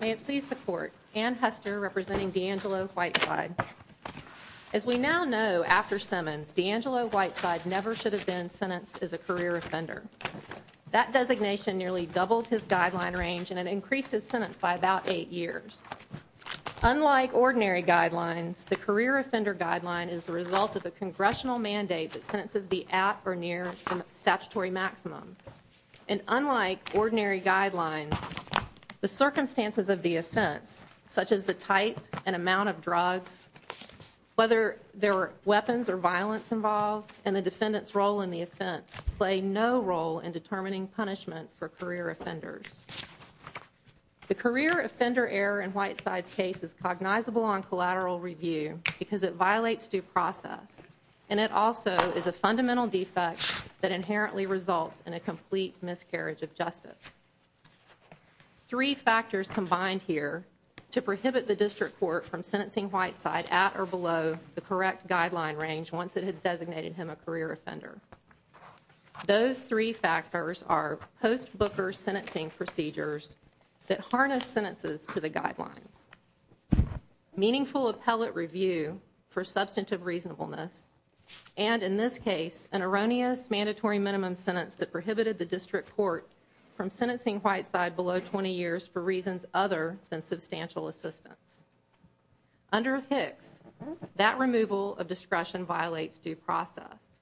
May it please the court, Anne Hester representing DeAngelo Whiteside. As we now know after Simmons, DeAngelo Whiteside never should have been sentenced as a career offender. That designation nearly doubled his guideline range and it increased his sentence by about eight years. Unlike ordinary guidelines, the career offender guideline is the result of a congressional mandate that sentences be at or near statutory maximum. And unlike ordinary guidelines, the circumstances of the offense, such as the type and amount of drugs, whether there were weapons or violence involved, and the defendant's role in the offense play no role in determining punishment for career offenders. The career offender error in Whiteside's case is cognizable on collateral review because it violates due process and it also is a fundamental defect that inherently results in a complete miscarriage of justice. Three factors combined here to prohibit the district court from sentencing Whiteside at or below the correct guideline range once it has designated him a career offender. Those three factors are post-Booker sentencing procedures that harness sentences to the guidelines, meaningful appellate review for substantive reasonableness, and in this case, an erroneous mandatory minimum sentence that prohibited the district court from sentencing Whiteside below 20 years for reasons other than substantial assistance. Under Hicks, that removal of discretion violates due process.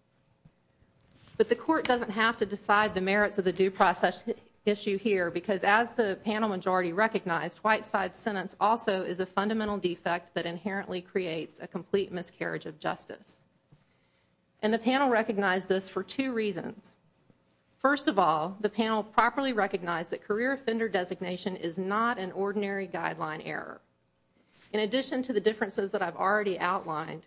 But the court doesn't have to decide the merits of the due process issue here because as the panel majority recognized, Whiteside's sentence also is a fundamental defect that And the panel recognized this for two reasons. First of all, the panel properly recognized that career offender designation is not an ordinary guideline error. In addition to the differences that I've already outlined,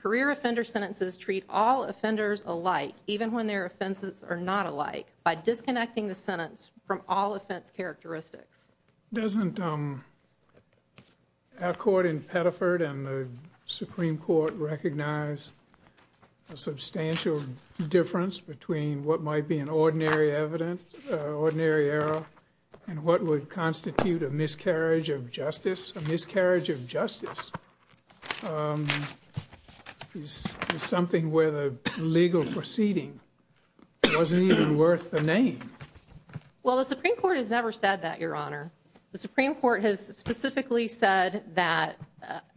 career offender sentences treat all offenders alike, even when their offenses are not alike, by disconnecting the sentence from all offense characteristics. Doesn't our court in Pettiford and the substantial difference between what might be an ordinary evidence, ordinary error, and what would constitute a miscarriage of justice? A miscarriage of justice is something where the legal proceeding wasn't even worth the name. Well, the Supreme Court has never said that, Your Honor. The Supreme Court has specifically said that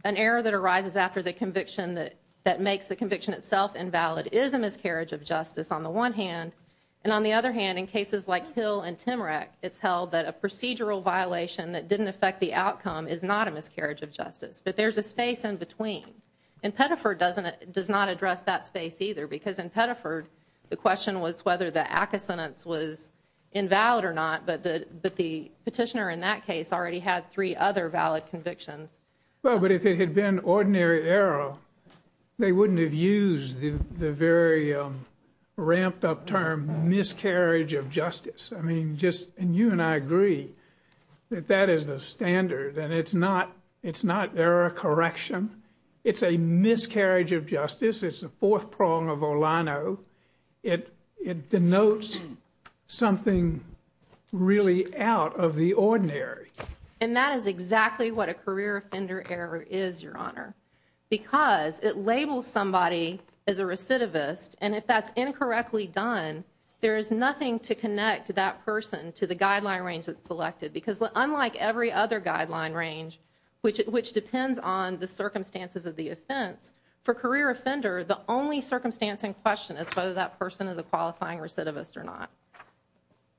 an error that arises after the conviction that makes the conviction itself invalid is a miscarriage of justice on the one hand. And on the other hand, in cases like Hill and Timorek, it's held that a procedural violation that didn't affect the outcome is not a miscarriage of justice. But there's a space in between. And Pettiford doesn't does not address that space either because in Pettiford, the question was whether the acusenance was invalid or not. But the petitioner in that case already had three other valid convictions. Well, but if it had been ordinary error, they wouldn't have used the very ramped up term miscarriage of justice. I mean, just and you and I agree that that is the standard. And it's not it's not error correction. It's a miscarriage of justice. It's the fourth prong of Olano. It denotes something really out of the And that is exactly what a career offender error is, Your Honor, because it labels somebody as a recidivist. And if that's incorrectly done, there is nothing to connect that person to the guideline range that's selected, because unlike every other guideline range, which which depends on the circumstances of the offense for career offender, the only circumstance in question is whether that person is a qualifying recidivist or not.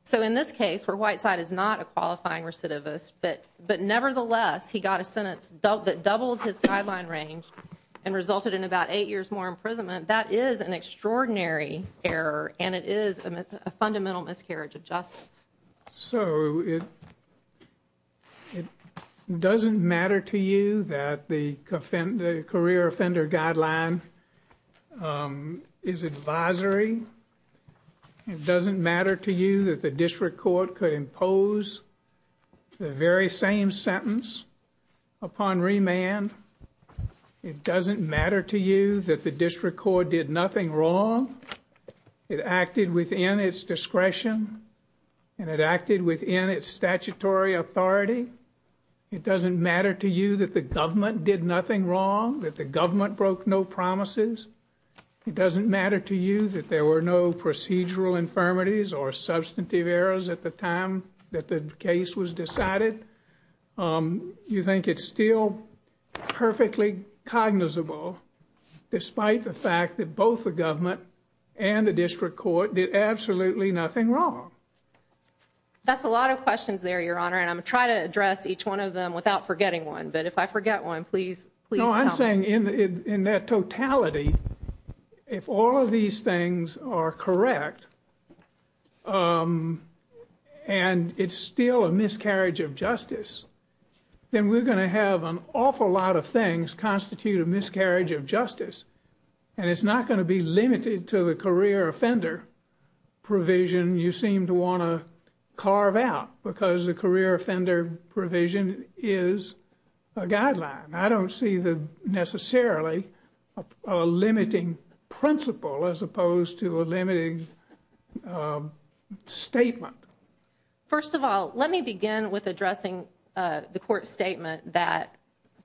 So in this case, where Whiteside is not a qualifying recidivist, but but nevertheless, he got a sentence dealt that doubled his guideline range and resulted in about eight years more imprisonment. That is an extraordinary error, and it is a fundamental miscarriage of justice. So it it doesn't matter to you that the career offender guideline is advisory. It doesn't matter to you that the district court could impose the very same sentence upon remand. It doesn't matter to you that the district court did nothing wrong. It acted within its discretion, and it acted within its statutory authority. It doesn't matter to you that the government did nothing wrong, that the government broke no promises. It doesn't matter to you that there were no procedural infirmities or substantive errors at the time that the case was decided. You think it's still perfectly cognizable despite the fact that both the government and the district court did absolutely nothing wrong. That's a lot of questions there, Your Honor, and I'm trying to address each one of them without forgetting one, but if I forget one, please, please. No, I'm saying in that totality, if all of these things are correct, and it's still a miscarriage of justice, then we're going to have an awful lot of things constitute a miscarriage of justice, and it's not going to be limited to the career offender provision you seem to want to carve out because the career offender provision is a guideline. I don't see necessarily a limiting principle as opposed to a limiting statement. First of all, let me begin with addressing the court's statement that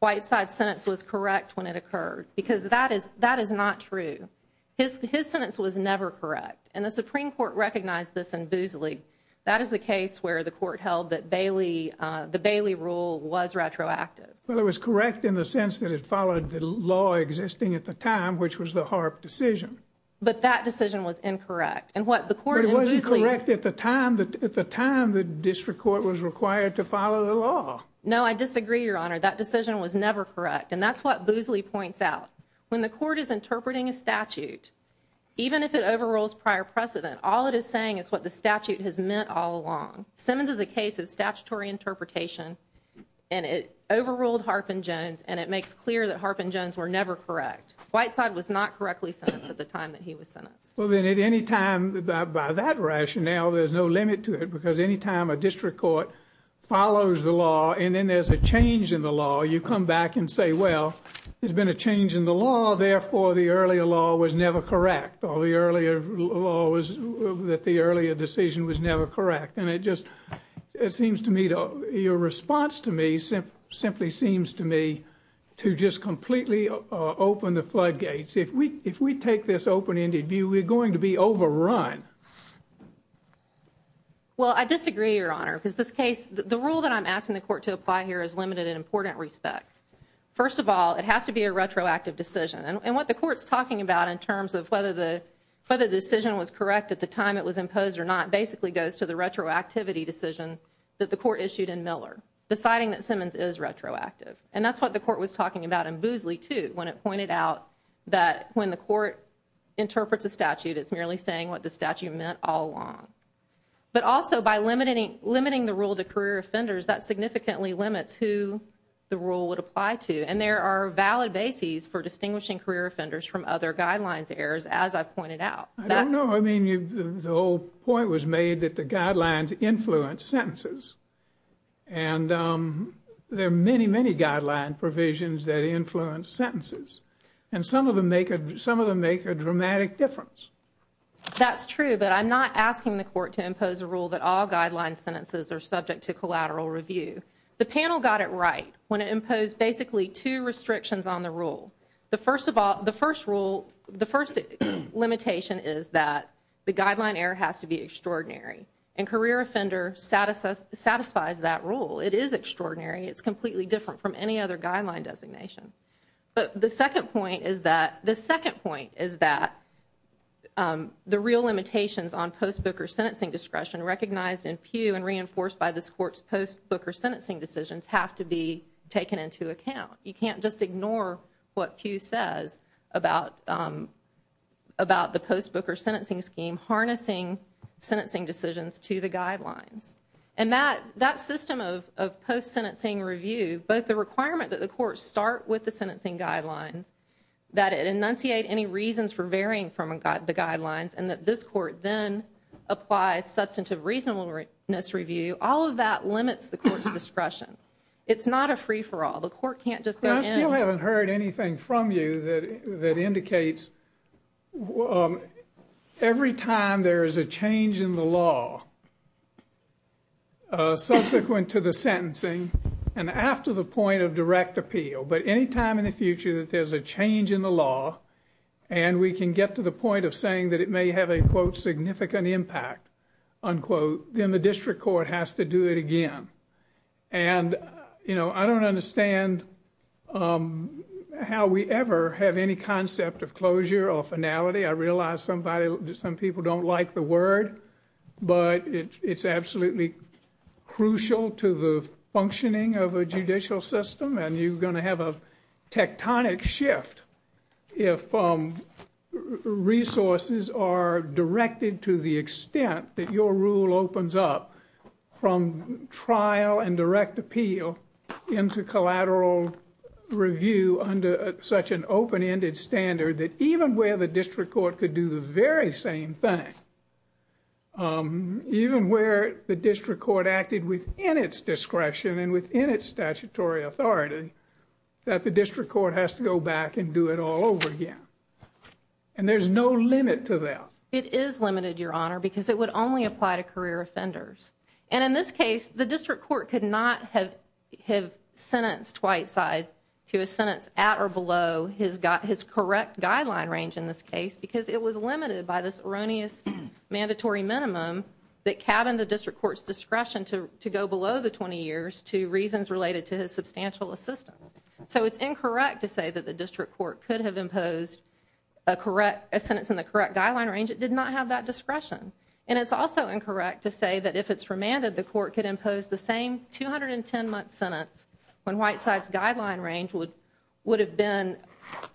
Whiteside's sentence was correct when it occurred because that is not true. His sentence was never correct, and the Supreme Court recognized this in Boosley. That is the case where the court held the Bailey rule was retroactive. Well, it was correct in the sense that it followed the law existing at the time, which was the Harp decision. But that decision was incorrect. But it wasn't correct at the time the district court was required to follow the law. No, I disagree, Your Honor. That decision was never correct, and that's what Boosley points out. When the court is interpreting a statute, even if it overrules prior precedent, all it is saying is what the statute has meant all along. Simmons is a case of statutory interpretation, and it overruled Harp and Jones, and it makes clear that Harp and Jones were never correct. Whiteside was not correctly sentenced at the time that he was sentenced. Well, then, at any time by that rationale, there's no limit to it because any time a district court follows the law and then there's a change in the law, you come back and say, well, there's been a change in the law. Therefore, the earlier law was never correct, or the earlier law was that the earlier decision was never correct. And it just, it seems to me, your response to me simply seems to me to just completely open the floodgates. If we take this open-ended view, we're going to be overrun. Well, I disagree, Your Honor, because this case, the rule that I'm asking the court to apply here is limited in important respects. First of all, it has to be a retroactive decision. And what the whether the decision was correct at the time it was imposed or not basically goes to the retroactivity decision that the court issued in Miller, deciding that Simmons is retroactive. And that's what the court was talking about in Boozley, too, when it pointed out that when the court interprets a statute, it's merely saying what the statute meant all along. But also, by limiting the rule to career offenders, that significantly limits who the rule would apply to. And there are valid bases for distinguishing career offenders from other guidelines errors, as I've pointed out. I don't know. I mean, the whole point was made that the guidelines influence sentences. And there are many, many guideline provisions that influence sentences. And some of them make a dramatic difference. That's true, but I'm not asking the court to impose a rule that all guideline sentences are subject to collateral review. The panel got it right when it imposed basically two restrictions on the rule. The first of all, the first rule, the first limitation is that the guideline error has to be extraordinary. And career offender satisfies that rule. It is extraordinary. It's completely different from any other guideline designation. But the second point is that, the second point is that the real limitations on post-Booker sentencing discretion recognized in Pew and reinforced by this court's post- Booker sentencing decisions have to be taken into account. You can't just ignore what Pew says about the post-Booker sentencing scheme harnessing sentencing decisions to the guidelines. And that system of post-sentencing review, both the requirement that the court start with the sentencing guidelines, that it enunciate any reasons for varying from the guidelines, and that this court then applies substantive reasonableness review, all of that limits the court's discretion. It's not a free-for-all. The court can't I still haven't heard anything from you that that indicates every time there is a change in the law subsequent to the sentencing and after the point of direct appeal, but any time in the future that there's a change in the law and we can get to the point of saying that it may have a quote significant impact unquote, then the district court has to do it again. And you know, I don't understand how we ever have any concept of closure or finality. I realize somebody some people don't like the word, but it's absolutely crucial to the functioning of a judicial system and you're going to have a tectonic shift if resources are directed to the extent that your rule opens up from trial and direct appeal into collateral review under such an open-ended standard, that even where the district court could do the very same thing, even where the district court acted within its discretion and within its statutory authority, that the district court has to go back and do it all over again. And there's no limit to that. It is limited your honor because it would only apply to career offenders and in this case the district court could not have sentenced Whiteside to a sentence at or below his got his correct guideline range in this case because it was limited by this erroneous mandatory minimum that cabined the district court's discretion to to go below the 20 years to reasons related to his substantial assistance. So it's incorrect to say that the district court could have imposed a correct a sentence in the correct guideline range it did not have that discretion. And it's also incorrect to say that if it's remanded the court could impose the same 210 month sentence when Whiteside's guideline range would would have been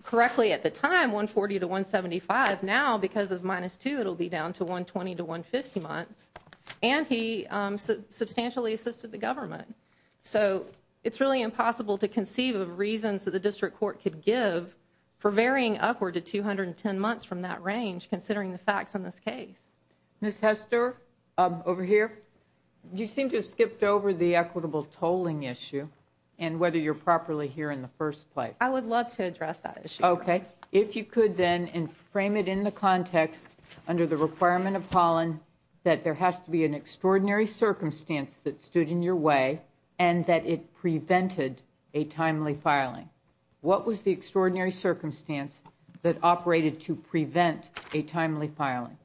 correctly at the time 140 to 175. Now because of minus two it'll be down to 120 to 150 months and he substantially assisted the government. So it's really impossible to conceive of reasons that the district court could give for varying upward to 210 months from that range considering the facts on this case. Ms. Hester over here you seem to have skipped over the equitable tolling issue and whether you're properly here in the first place. I would love to address that issue. Okay if you could then and frame it in the context under the requirement of Holland that there has to be an extraordinary circumstance that stood in your way and that it prevented a timely filing. What was the extraordinary circumstance that operated to prevent a timely filing?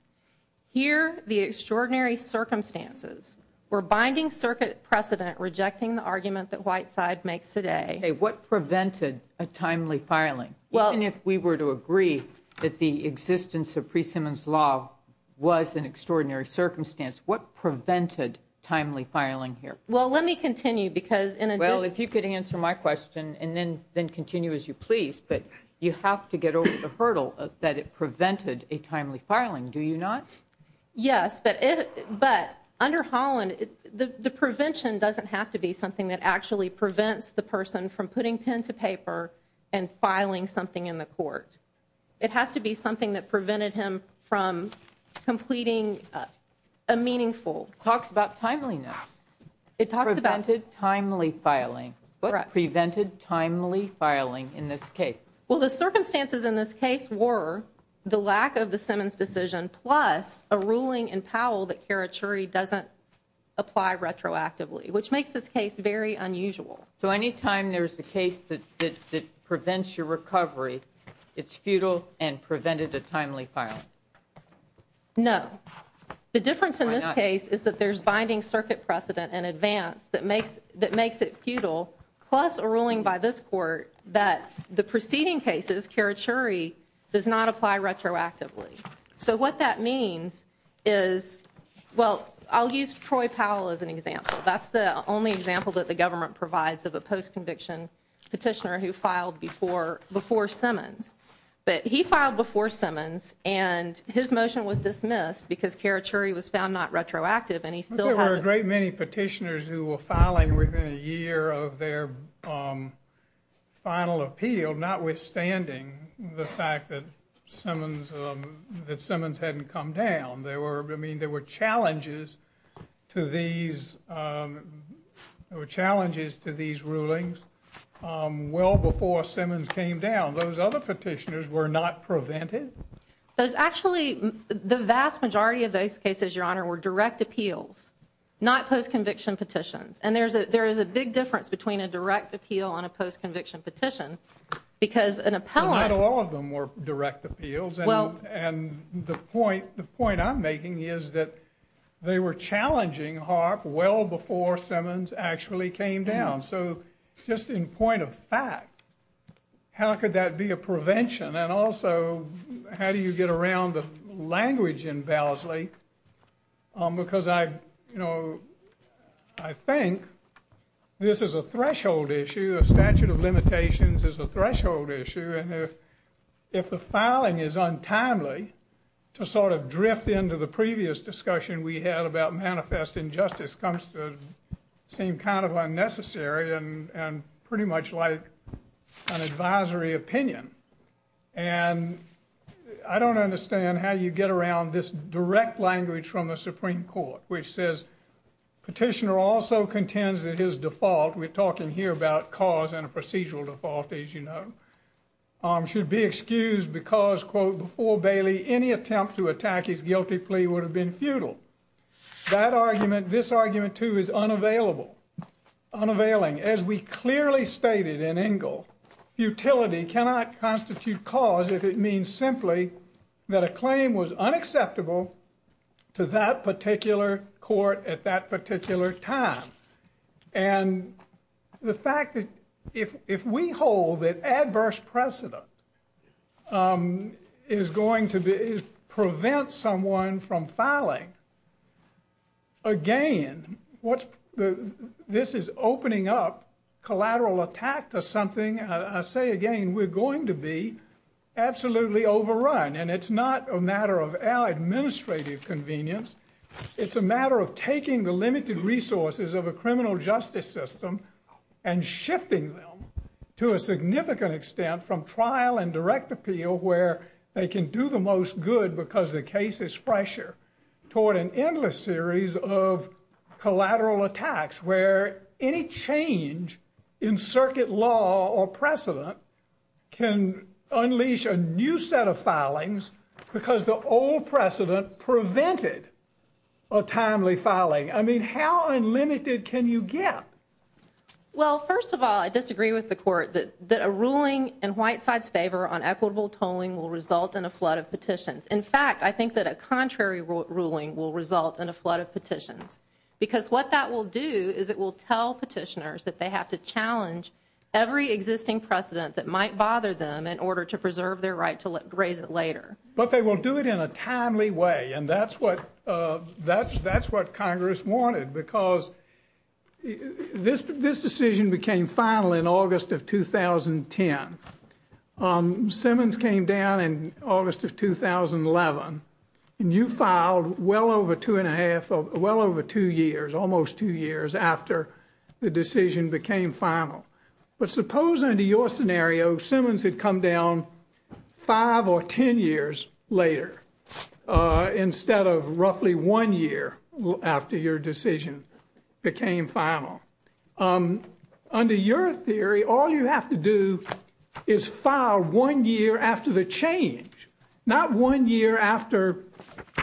Here the extraordinary circumstances were binding circuit precedent rejecting the argument that Whiteside makes today. Okay what prevented a timely filing? Well and if we were to agree that the existence of pre-simmons law was an extraordinary circumstance what prevented timely filing here? Well let me continue because in addition. Well if you could answer my question and then then continue as you please but you have to get over the hurdle that it prevented a timely filing do you not? Yes but if but under Holland the the prevention doesn't have to be something that actually prevents the person from putting pen to paper and filing something in the court. It has to be something that prevented him from completing a meaningful. Talks about timeliness. It talks about. Prevented timely filing. Correct. Prevented timely filing in this case. Well the circumstances in this case were the lack of the Simmons decision plus a ruling in Powell that Kara Chury doesn't apply retroactively which makes this case very unusual. So anytime there's the case that that prevents your recovery it's futile and prevented a timely filing? No. The difference in this case is that there's binding circuit precedent in advance that makes that makes it futile plus a ruling by this court that the preceding cases Kara Chury does not apply retroactively. So what that means is well I'll use Troy Powell as an example that's the only example that the government provides of a post-conviction petitioner who filed before before Simmons. But he filed before Simmons and his motion was dismissed because Kara Chury was found not retroactive and he still has. There were a great many petitioners who were filing within a year of their final appeal notwithstanding the fact that Simmons that Simmons hadn't come down. There were I mean there were challenges to these there were challenges to these rulings well before Simmons came down. Those other petitioners were not prevented? Those actually the vast majority of those cases your honor were direct appeals not post-conviction petitions and there's a there is a big difference between a direct appeal and a post-conviction petition because an appellant. Not all of them were direct appeals and well and the point the point I'm making is that they were challenging HARP well before Simmons actually came down so just in point of fact how could that be a prevention and also how do you get around the language in Bellsley because I you know I think this is a threshold issue a statute of limitations is a threshold issue and if if the filing is untimely to sort of drift into the previous discussion we had about manifest injustice comes to seem kind of unnecessary and and pretty much like an advisory opinion and I don't understand how you get around this direct language from the Supreme Court which says petitioner also contends that his default we're talking here about cause and a procedural default as you know should be excused because quote before Bailey any attempt to attack his guilty plea would have been futile that argument this argument too is unavailable unavailing as we clearly stated in Engel futility cannot constitute cause if it means simply that a claim was unacceptable to that particular court at that particular time and the fact that if if we hold that adverse precedent is going to be prevent someone from filing again what's the this is opening up collateral attack to something I say again we're going to be absolutely overrun and it's not a matter of our administrative convenience it's a matter of taking the limited resources of a criminal justice system and shifting them to a significant extent from trial and direct appeal where they can do the most good because the case is fresher toward an endless series of collateral attacks where any change in circuit law or precedent can unleash a new set of filings because the old precedent prevented a timely filing I mean how unlimited can you get well first of all I disagree with the court that that a ruling in white side's favor on equitable tolling will result in a flood of petitions in fact I think that a contrary ruling will result in a flood of petitions because what that will do is it will tell petitioners that they have to challenge every existing precedent that might bother them in order to preserve their right to raise it later but they will do it in a timely way and that's what uh that's that's what congress wanted because this this decision became final in august of 2010 um Simmons came down in august of 2011 and you filed well over two and a half well over two years almost two years after the decision became final but suppose under your scenario Simmons had come down five or ten years later uh instead of roughly one year after your decision became final um under your theory all you have to do is file one year after the change not one year after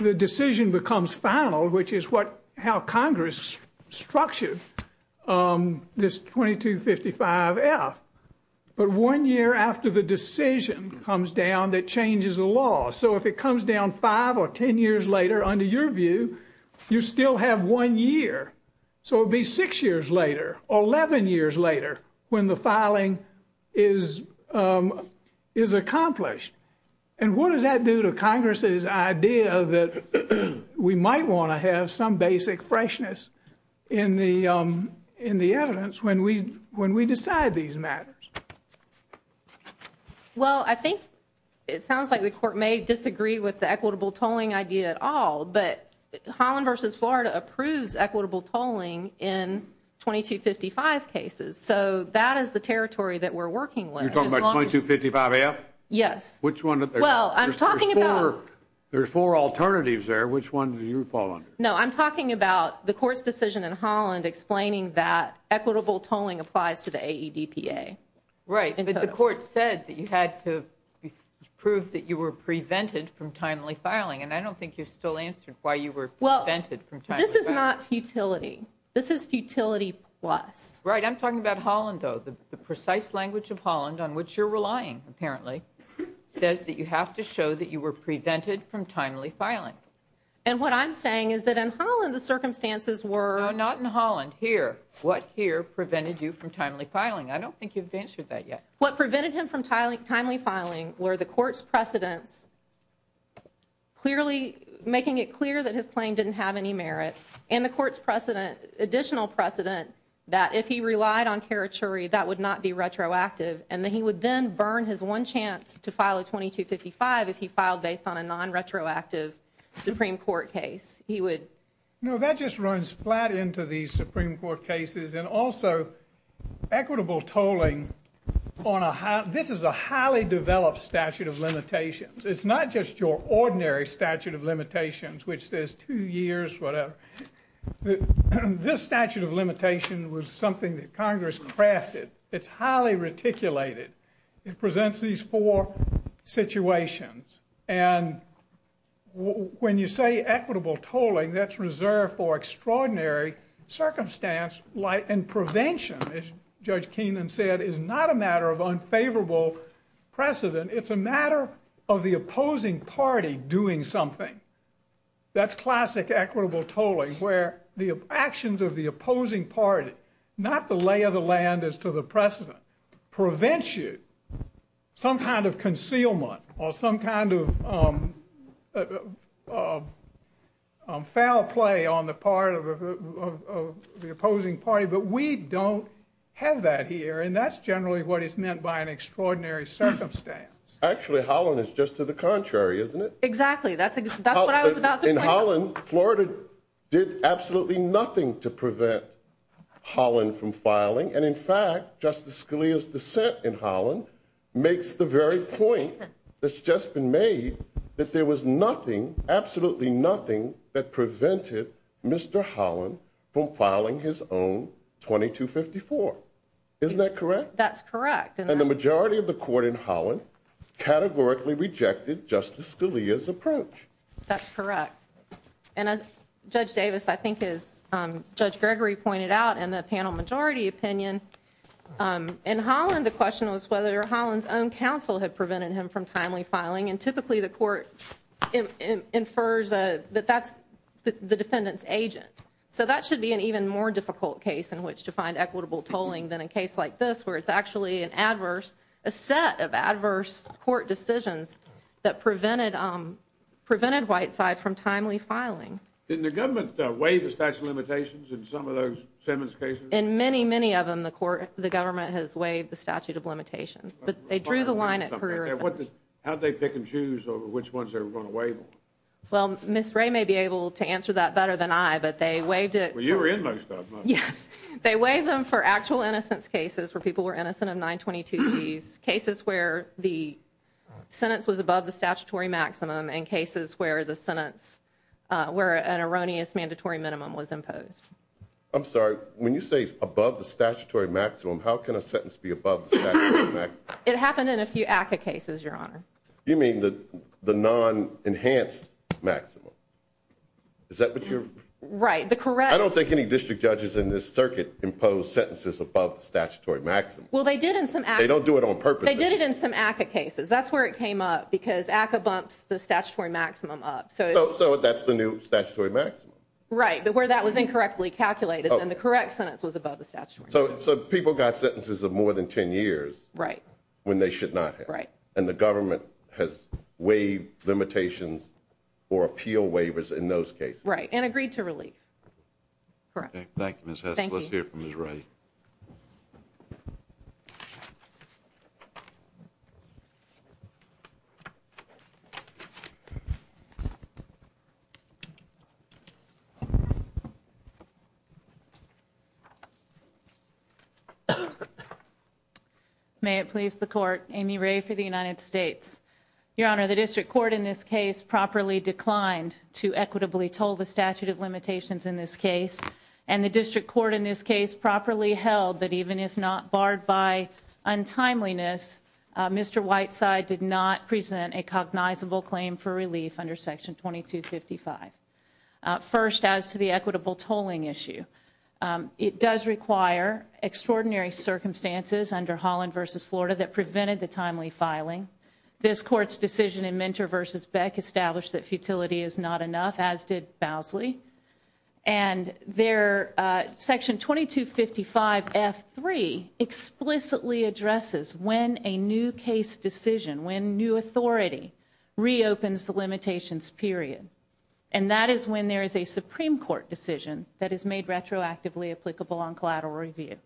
the decision becomes final which is what how congress structured um this 2255 f but one year after the decision comes down that changes the law so if it comes down five or ten years later under your view you still have one year so it'll be six years later 11 years later when the filing is um is accomplished and what does that do to congress's idea that we might want to have some basic freshness in the um in the evidence when we when we decide these matters well i think it sounds like the court may disagree with the equitable tolling idea at all but holland versus florida approves equitable tolling in 2255 cases so that is the territory that we're working with you're talking about 2255 f yes which one well i'm talking about there's four alternatives there which one do you fall under no i'm talking about the court's decision in holland explaining that equitable tolling applies to the aedpa right but the court said that you had to prove that you were prevented from timely filing and i don't think you still answered why you were well vented from time this is not futility this is futility plus right i'm talking about holland though the precise language of holland on which you're relying apparently says that you have to show that you were prevented from timely filing and what i'm saying is that in holland the circumstances were not in holland here what here prevented you from timely filing i don't think you've answered that yet what prevented him from timely timely filing were the court's precedents clearly making it clear that his claim didn't have any merit and the court's precedent additional precedent that if he relied on territory that would not be retroactive and then he would then burn his one chance to file a 2255 if he filed based on a non-retroactive supreme court case he would no that just runs flat into these supreme court cases and also equitable tolling on a high this is a highly developed statute of limitations it's not just your ordinary statute of limitations which says two years whatever this statute of limitation was something that congress crafted it's highly reticulated it presents these four situations and when you say equitable tolling that's reserved for extraordinary circumstance light and prevention as judge keenan said is not a matter of unfavorable precedent it's a matter of the opposing party doing something that's classic equitable tolling where the actions of the opposing party not the lay of the land as to the precedent prevents you some kind of concealment or some kind of of foul play on the part of the opposing party but we don't have that here and that's generally what is meant by an extraordinary circumstance actually holland is just to the contrary isn't it exactly that's what i was about in holland florida did absolutely nothing to prevent holland from filing and in fact justice scalia's dissent in holland makes the very point that's just been made that there was nothing absolutely nothing that prevented mr holland from filing his own 2254 isn't that correct that's correct and the majority of the court in holland categorically rejected justice scalia's approach that's correct and as judge davis i think is um judge gregory pointed out in the panel majority opinion um in holland the question was whether holland's own counsel had prevented him from timely filing and typically the court infers that that's the defendant's agent so that should be an even more difficult case in which to a set of adverse court decisions that prevented um prevented white side from timely filing didn't the government waive the statute of limitations in some of those simmons cases in many many of them the court the government has waived the statute of limitations but they drew the line at career what how'd they pick and choose over which ones they were going to waive well miss ray may be able to answer that better than i but they waived it well you were in most of them yes they waive them for actual innocence cases where people were innocent of 922 g's cases where the sentence was above the statutory maximum in cases where the sentence uh where an erroneous mandatory minimum was imposed i'm sorry when you say above the statutory maximum how can a sentence be above it happened in a few aca cases your honor you mean the the non-enhanced maximum is that what you're right the correct i don't think any district judges in this circuit imposed sentences above the statutory maximum well they did in some they don't do it on purpose they did it in some aca cases that's where it came up because aca bumps the statutory maximum up so so that's the new statutory maximum right but where that was incorrectly calculated and the correct sentence was above the statute so so people got sentences of more than 10 years right when they should not have right and the government has waived limitations or appeal waivers in those cases right and agreed to relief correct thank you miss let's hear from miss ray may it please the court amy ray for the united states your honor the district court in this case properly declined to equitably toll the statute of limitations in this case and the district court in this case properly held that even if not barred by untimeliness mr white side did not present a cognizable claim for relief under section 2255 first as to the equitable tolling issue it does require extraordinary circumstances under holland versus florida that prevented the timely filing this court's decision in mentor versus beck established that futility is not enough as did bosley and their uh section 2255 f3 explicitly addresses when a new case decision when new authority reopens the limitations period and that is when there is a supreme court decision that is made retroactively applicable on collateral review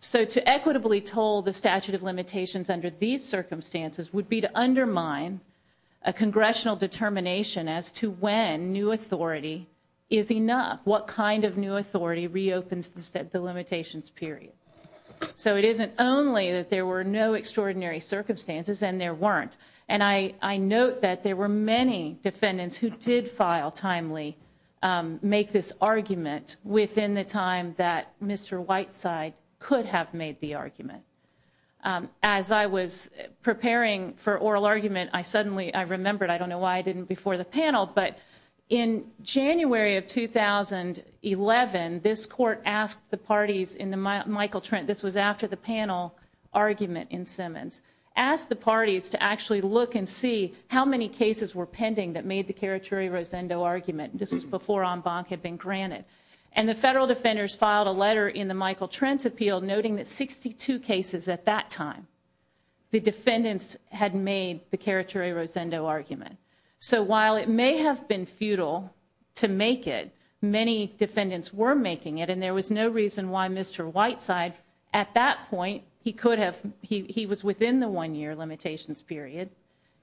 so to equitably toll the statute of limitations under these circumstances would be to undermine a congressional determination as to when new authority is enough what kind of new authority reopens the limitations period so it isn't only that there were no extraordinary circumstances and there weren't and i i note that there were many defendants who did file timely make this argument within the time that mr white side could have made the argument as i was preparing for oral argument i suddenly i remembered i don't know why i didn't before the panel but in january of 2011 this court asked the parties in the michael trent this was after the panel argument in simmons asked the parties to actually look and see how many cases were pending that made the caraturi rosendo argument this was granted and the federal defenders filed a letter in the michael trent appeal noting that 62 cases at that time the defendants had made the caraturi rosendo argument so while it may have been futile to make it many defendants were making it and there was no reason why mr white side at that point he could have he he was within the one year limitations period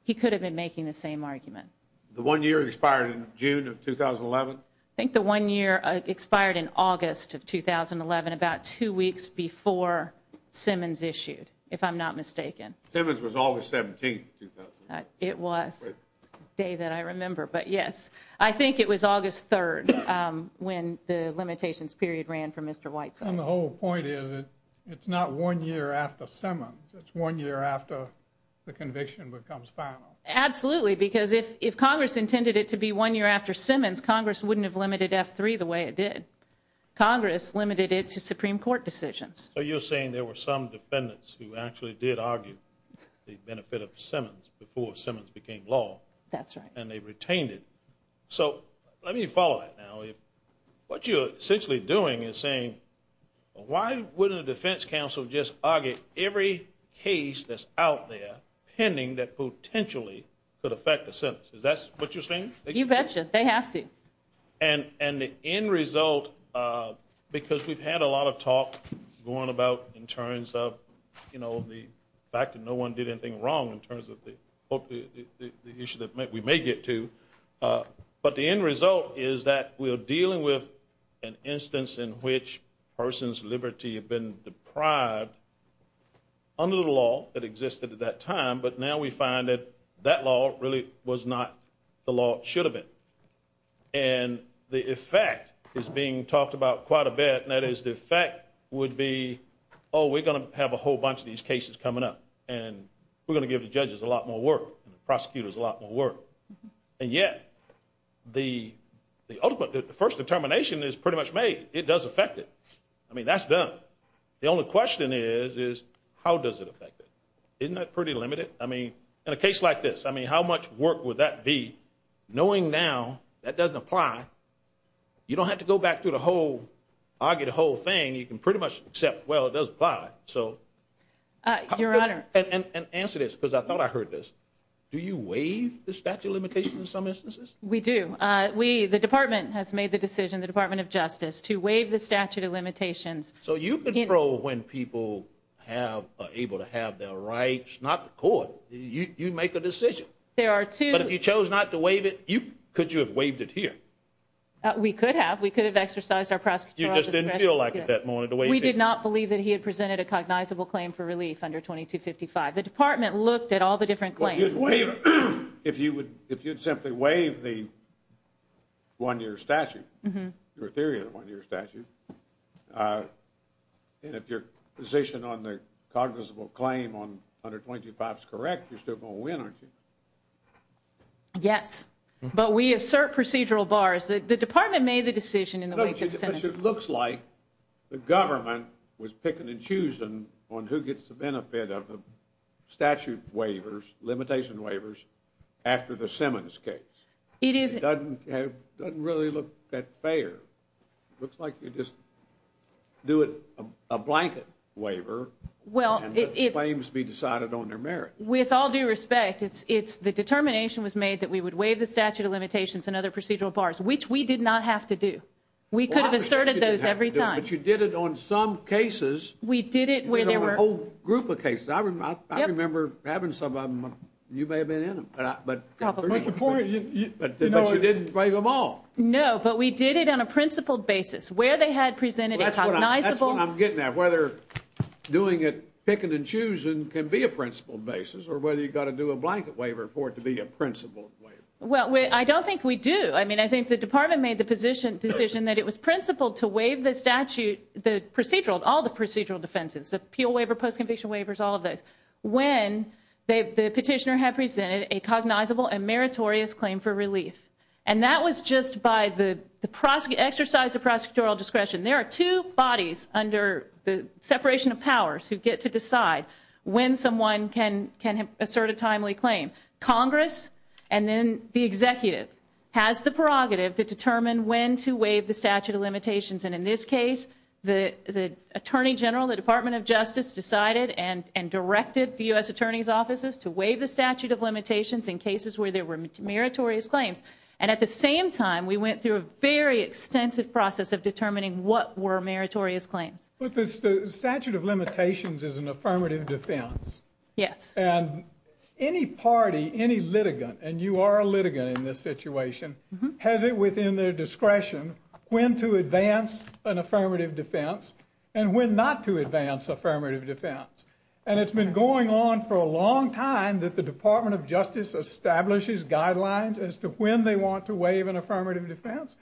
he could have been making the same i think the one year expired in august of 2011 about two weeks before simmons issued if i'm not mistaken simmons was august 17th it was a day that i remember but yes i think it was august 3rd um when the limitations period ran for mr white and the whole point is it it's not one year after simmons it's one year after the conviction becomes final absolutely because if if congress intended it to be one year after simmons congress wouldn't have limited f3 the way it did congress limited it to supreme court decisions so you're saying there were some defendants who actually did argue the benefit of simmons before simmons became law that's right and they retained it so let me follow that now if what you're essentially doing is saying why wouldn't the defense council just argue every case that's out there pending that potentially could affect the sentence is that's what you're saying you betcha they have to and and the end result uh because we've had a lot of talk going about in terms of you know the fact that no one did anything wrong in terms of the the issue that we may get to uh but the end result is that we're dealing with an instance in which person's liberty have been deprived under the law that existed at that time but now we find that that law really was not the law should have been and the effect is being talked about quite a bit and that is the fact would be oh we're going to have a whole bunch of these cases coming up and we're going to give the judges a lot more work and the prosecutors a lot more work and yet the the ultimate the first determination is pretty much made it does affect it i mean that's done the only question is is does it affect it isn't that pretty limited i mean in a case like this i mean how much work would that be knowing now that doesn't apply you don't have to go back through the whole argue the whole thing you can pretty much accept well it does apply so uh your honor and and answer this because i thought i heard this do you waive the statute of limitations in some instances we do uh we the department has made the decision the department of justice to waive the statute of limitations so you control when people have are able to have their rights not the court you you make a decision there are two but if you chose not to waive it you could you have waived it here we could have we could have exercised our prosecutor you just didn't feel like it that morning the way we did not believe that he had presented a cognizable claim for relief under 22 55 the department looked at all the different claims if you would if you'd simply waive the one-year statute your theory of the one-year statute uh and if you're positioned on the cognizable claim on 125 is correct you're still going to win aren't you yes but we assert procedural bars the department made the decision in the way it looks like the government was picking and choosing on who gets the benefit of the statute waivers limitation waivers after the simmons case it is doesn't have doesn't really look that fair looks like you just do it a blanket waiver well it claims to be decided on their merit with all due respect it's it's the determination was made that we would waive the statute of limitations and other procedural bars which we did not have to do we could have asserted those every time but you did it on some cases we did it where there were a whole group of cases i remember i remember having some of them you may have been in them but but before you but you didn't bring them all no but we did it on a principled basis where they had presented that's what i'm getting at whether doing it picking and choosing can be a principled basis or whether you got to do a blanket waiver for it to be a principled waiver well i don't think we do i mean i think the department made the position decision that it was principled to waive the statute the procedural all the procedural defenses appeal waiver post-conviction waivers all of those when the petitioner had presented a cognizable and meritorious claim for relief and that was just by the the prosecutor exercise of prosecutorial discretion there are two bodies under the separation of powers who get to decide when someone can can assert a timely claim congress and then the executive has the prerogative to determine when to waive the statute of limitations and in this case the the attorney general the department of and directed the u.s. attorney's offices to waive the statute of limitations in cases where they were meritorious claims and at the same time we went through a very extensive process of determining what were meritorious claims but the statute of limitations is an affirmative defense yes and any party any litigant and you are a litigant in this situation has it within their discretion when to advance an affirmative defense and when not to advance affirmative defense and it's been going on for a long time that the department of justice establishes guidelines as to when they want to waive an affirmative defense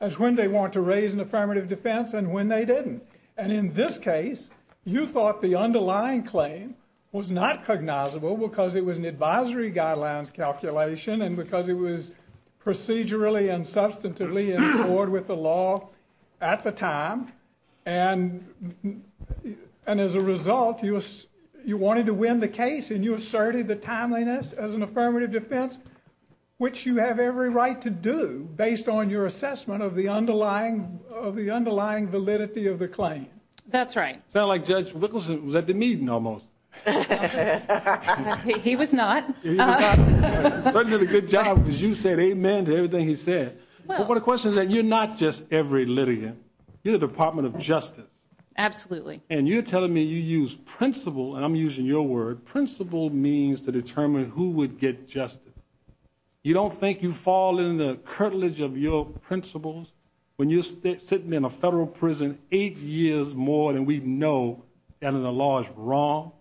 as when they want to raise an affirmative defense and when they didn't and in this case you thought the underlying claim was not cognizable because it was an advisory guidelines calculation and because it was procedurally and substantively in accord with the law at the time and and as a result you you wanted to win the case and you asserted the timeliness as an affirmative defense which you have every right to do based on your assessment of the underlying of the underlying validity of the claim that's right sound like judge wickleson was at the meeting almost he was not but did a good job because you said amen to everything he said well but the question is that you're not just every litigant you're the department of justice absolutely and you're telling me you use principle and i'm using your word principle means to determine who would get justice you don't think you fall in the curtilage of your principles when you're sitting in a federal prison eight years more than we know and the law is wrong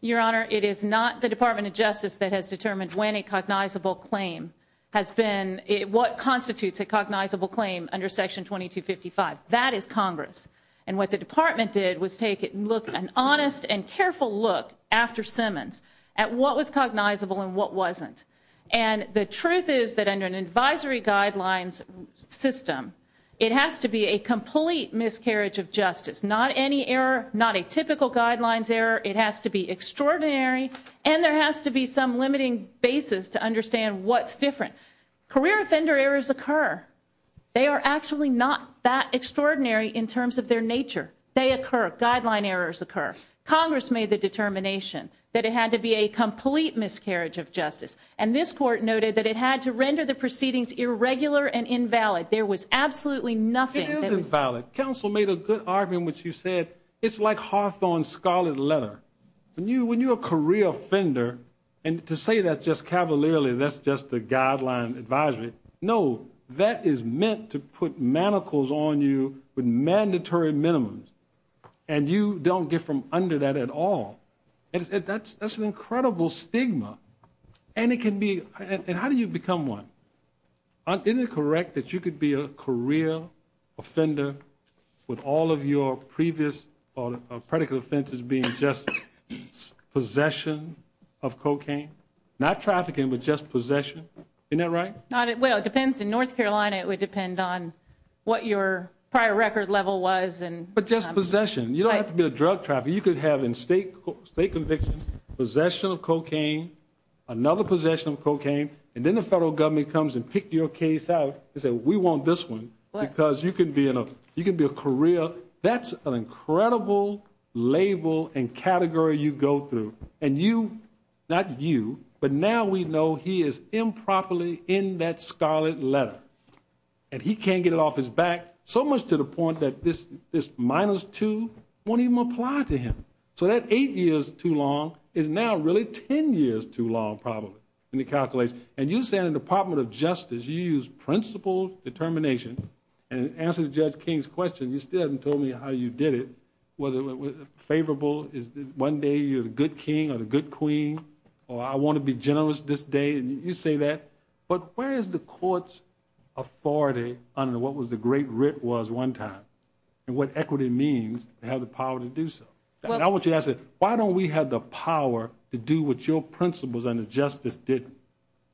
your honor it is not the department of justice that has determined when a cognizable claim has been it what constitutes a cognizable claim under section 2255 that is congress and what the department did was take it look an honest and careful look after simmons at what was cognizable and what wasn't and the truth is that under an advisory guidelines system it has to be a complete miscarriage of justice not any error not a typical guidelines error it has to be extraordinary and there has to be some limiting basis to understand what's different career offender errors occur they are actually not that extraordinary in terms of their nature they occur guideline errors occur congress made the determination that it had to be a complete miscarriage of justice and this court noted that it had to render the proceedings irregular and invalid there was absolutely nothing it was invalid council made a good argument which you said it's like hawthorn scarlet letter when you when you're a career offender and to say that just cavalierly that's just the guideline advisory no that is meant to put manacles on you with mandatory minimums and you don't get from under that at all and that's that's an incredible stigma and it can be and how do you become one isn't it correct that you could be a career offender with all of your previous or predicate offenses being just possession of cocaine not trafficking but just possession isn't that right not it well it depends in north carolina it would depend on what your prior record level was and but just possession you don't have to be a drug trafficker you could have in state state conviction possession of cocaine another possession of cocaine and then the federal government comes and pick your case out they said we want this one because you can be in a you can be a career that's an incredible label and category you go through and you not you but now we know he is improperly in that scarlet letter and he can't get it off his back so much to the point that this this minus two won't even apply to him so that eight years too long is now really 10 years too long probably in the calculation and you say in the department of justice you use principle determination and answer judge king's question you still haven't told me how you did it whether it was favorable is one day you're the good king or the good queen or i want to be generous this day and you say that but where is the court's authority under what was the great writ was one time and what equity means to have the power to do so i want you to ask why don't we have the power to do what your principles and the justice did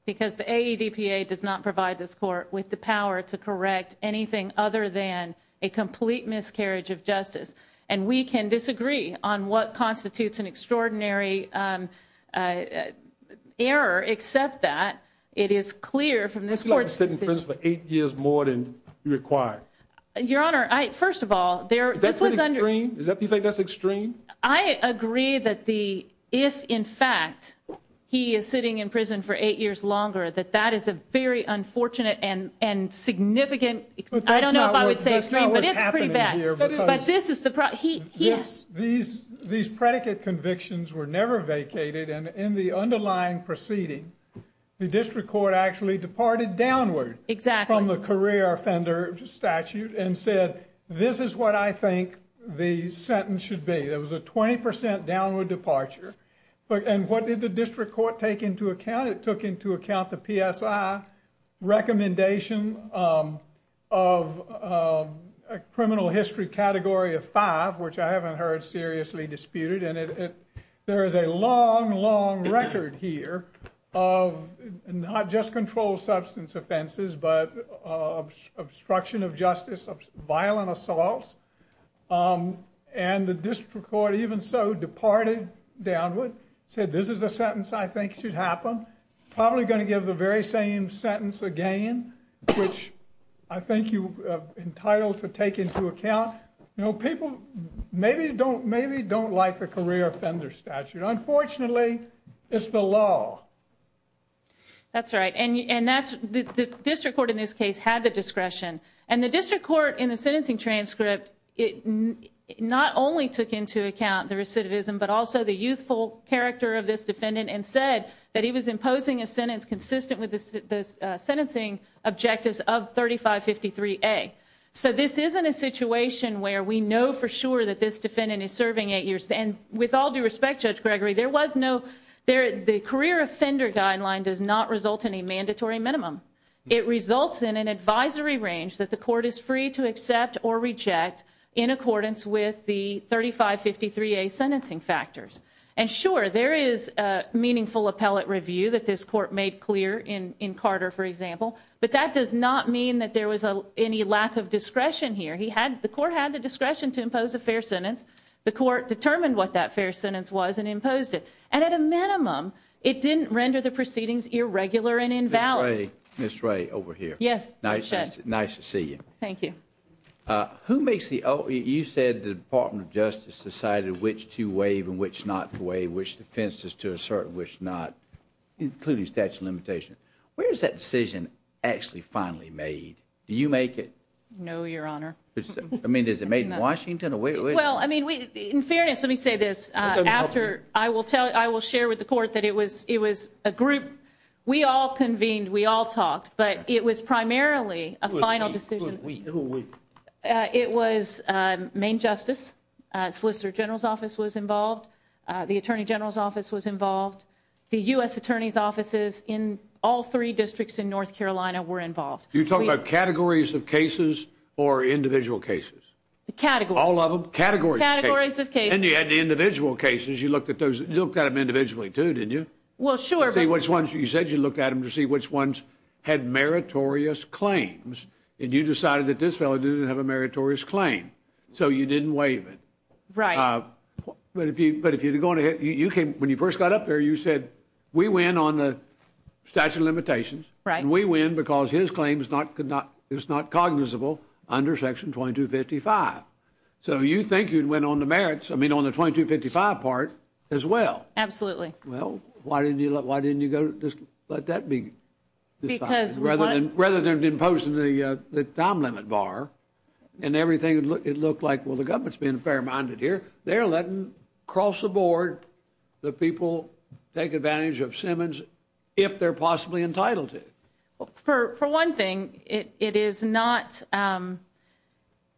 because the aedpa does not provide this court with the power to correct anything other than a complete miscarriage of justice and we can disagree on what constitutes an extraordinary um error except that it is clear from this court sitting for eight years more than required your honor i first of all there this was under is that do you think that's extreme i agree that the if in fact he is sitting in prison for eight years longer that that is a very unfortunate and and significant i don't know if i would say it's not what's happening here but this is the problem he yes these these predicate convictions were never vacated and in the underlying proceeding the district court actually departed downward exactly from the career offender statute and said this is what i think the sentence should be there was a 20 percent downward departure but and what did the district court take into account it took into account the psi recommendation of a criminal history category of five which i haven't heard seriously disputed and it there is a long long record here of not just controlled substance offenses but obstruction of justice of violent assaults um and the district court even so departed downward said this is the sentence i think should happen probably going to give the very same sentence again which i think you have entitled to take into account you know people maybe don't maybe don't like the career offender statute unfortunately it's the law that's right and and that's the discretion and the district court in the sentencing transcript it not only took into account the recidivism but also the youthful character of this defendant and said that he was imposing a sentence consistent with the sentencing objectives of 35 53 a so this isn't a situation where we know for sure that this defendant is serving eight years and with all due respect judge gregory there was no there the career offender guideline does not result in a mandatory minimum it results in an advisory range that the court is free to accept or reject in accordance with the 35 53 a sentencing factors and sure there is a meaningful appellate review that this court made clear in in carter for example but that does not mean that there was a any lack of discretion here he had the court had the discretion to impose a fair sentence the court determined what that fair sentence was and imposed it and at a it didn't render the proceedings irregular and invalid miss ray over here yes nice nice to see you thank you uh who makes the oh you said the department of justice decided which to waive and which not to waive which defense is to assert which not including statute limitation where is that decision actually finally made do you make it no your honor i mean is it made in washington well i mean we in fairness let me say this after i will tell i will share with the court that it was it was a group we all convened we all talked but it was primarily a final decision it was uh main justice uh solicitor general's office was involved uh the attorney general's office was involved the u.s attorney's offices in all three districts in north carolina were involved you talk about categories of cases you looked at those you looked at them individually too didn't you well sure see which ones you said you looked at them to see which ones had meritorious claims and you decided that this fellow didn't have a meritorious claim so you didn't waive it right but if you but if you're going to hit you came when you first got up there you said we win on the statute of limitations right and we win because his claims not could not it's not cognizable under section 2255 so you think you'd win on the merits i mean on the 2255 part as well absolutely well why didn't you look why didn't you go just let that be because rather than rather than imposing the uh the time limit bar and everything it looked like well the government's being fair-minded here they're letting cross the board the people take advantage of simmons if they're possibly entitled to for for one thing it it is not um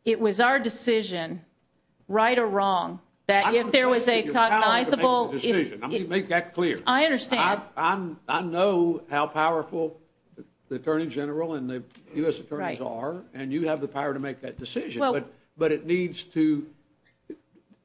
it was our decision right or wrong that if there was a cognizable decision i mean make that clear i understand i'm i know how powerful the attorney general and the u.s attorneys are and you have the power to make that decision but but it needs to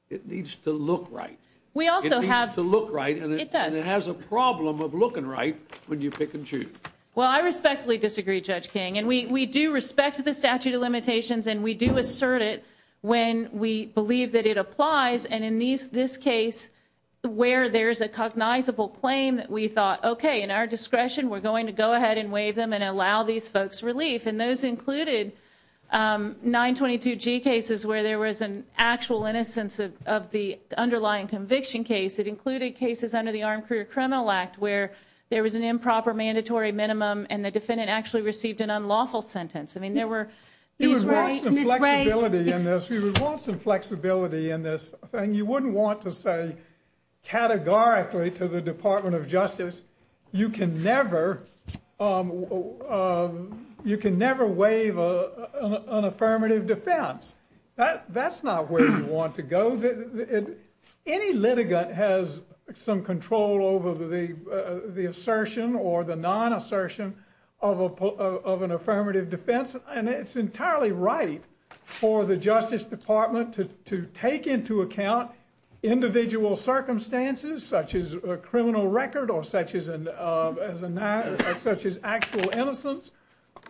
it needs to look right we also have to look right and it does it has a problem of looking right when you pick and choose well i respectfully disagree judge king and we we do respect the statute of limitations and we do assert it when we believe that it applies and in these this case where there's a cognizable claim that we thought okay in our discretion we're going to go ahead and waive them and allow these folks relief and those included um 922 g cases where there was an actual innocence of of the underlying conviction case it included cases under the armed career criminal act where there was an improper mandatory minimum and the defendant actually received an unlawful sentence i mean there were he's right flexibility in this he would want some flexibility in this thing you wouldn't want to say categorically to the department of justice you can never um you can never waive a an affirmative defense that that's not where you want to go that any litigant has some control over the the assertion or the non-assertion of a of an affirmative defense and it's entirely right for the justice department to to take into account individual circumstances such as a criminal record or such as an uh as a such as actual innocence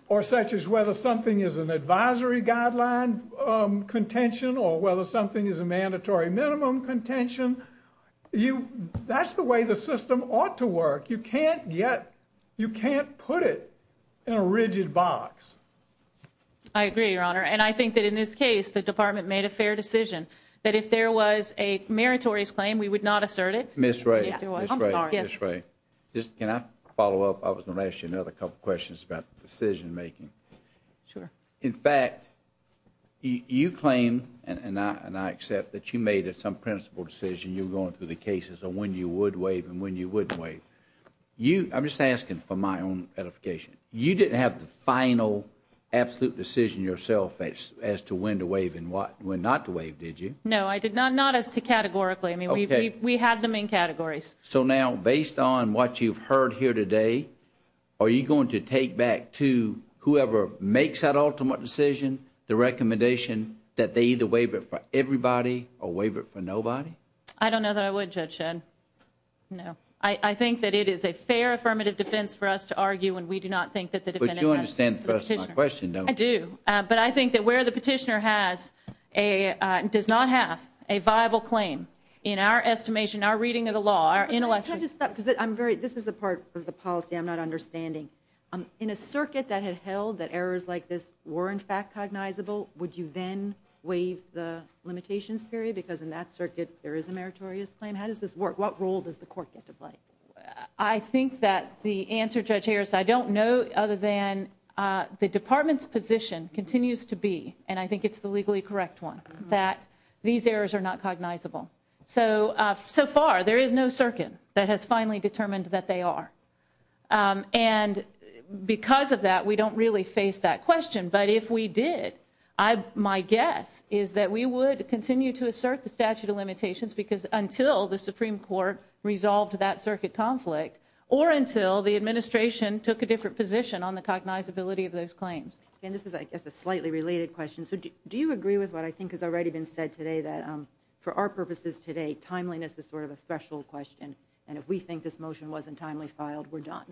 or such as whether something is an advisory guideline um contention or whether something is a mandatory minimum contention you that's the way the system ought to in a rigid box i agree your honor and i think that in this case the department made a fair decision that if there was a meritorious claim we would not assert it miss ray i'm sorry yes right just can i follow up i was gonna ask you another couple questions about decision making sure in fact you claim and i and i accept that you made it some principal decision you're going through the cases or when you would waive and when you wouldn't wait you i'm just asking for my own clarification you didn't have the final absolute decision yourself as to when to waive and what when not to waive did you no i did not not as to categorically i mean we we have the main categories so now based on what you've heard here today are you going to take back to whoever makes that ultimate decision the recommendation that they either waive it for everybody or waive it for nobody i don't know that i would judge ed no i i think that it is a fair affirmative defense for us to argue and we do not think that the defendant would you understand the question no i do but i think that where the petitioner has a uh does not have a viable claim in our estimation our reading of the law our intellectual because i'm very this is the part of the policy i'm not understanding um in a circuit that had held that errors like this were in fact cognizable would you then waive the limitations period because in that circuit there is a meritorious claim how does this work what role does the court get to play i think that the answer judge here is i don't know other than uh the department's position continues to be and i think it's the legally correct one that these errors are not cognizable so uh so far there is no circuit that has finally determined that they are and because of that we don't really face that question but if we did i my guess is that we would continue to assert the statute of limitations because until the supreme court resolved that circuit conflict or until the administration took a different position on the cognizability of those claims and this is i guess a slightly related question so do you agree with what i think has already been said today that for our purposes today timeliness is sort of a threshold question and if we think this motion wasn't timely filed we're done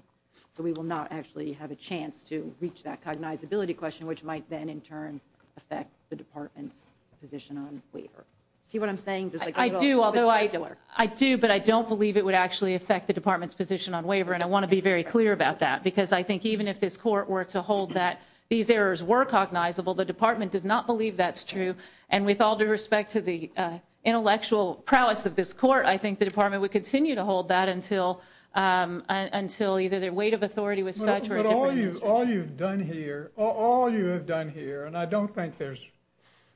so we will not actually have a chance to reach that cognizability question which might then in turn affect the department's position on waiver see what i'm saying i do although i i do but i don't believe it would actually affect the department's position on waiver and i want to be very clear about that because i think even if this court were to hold that these errors were cognizable the department does not believe that's true and with all due respect to the uh intellectual prowess of this court i think the department would continue to hold that until um until either their weight of authority with such but all you all you've done here all you have done here and i don't think there's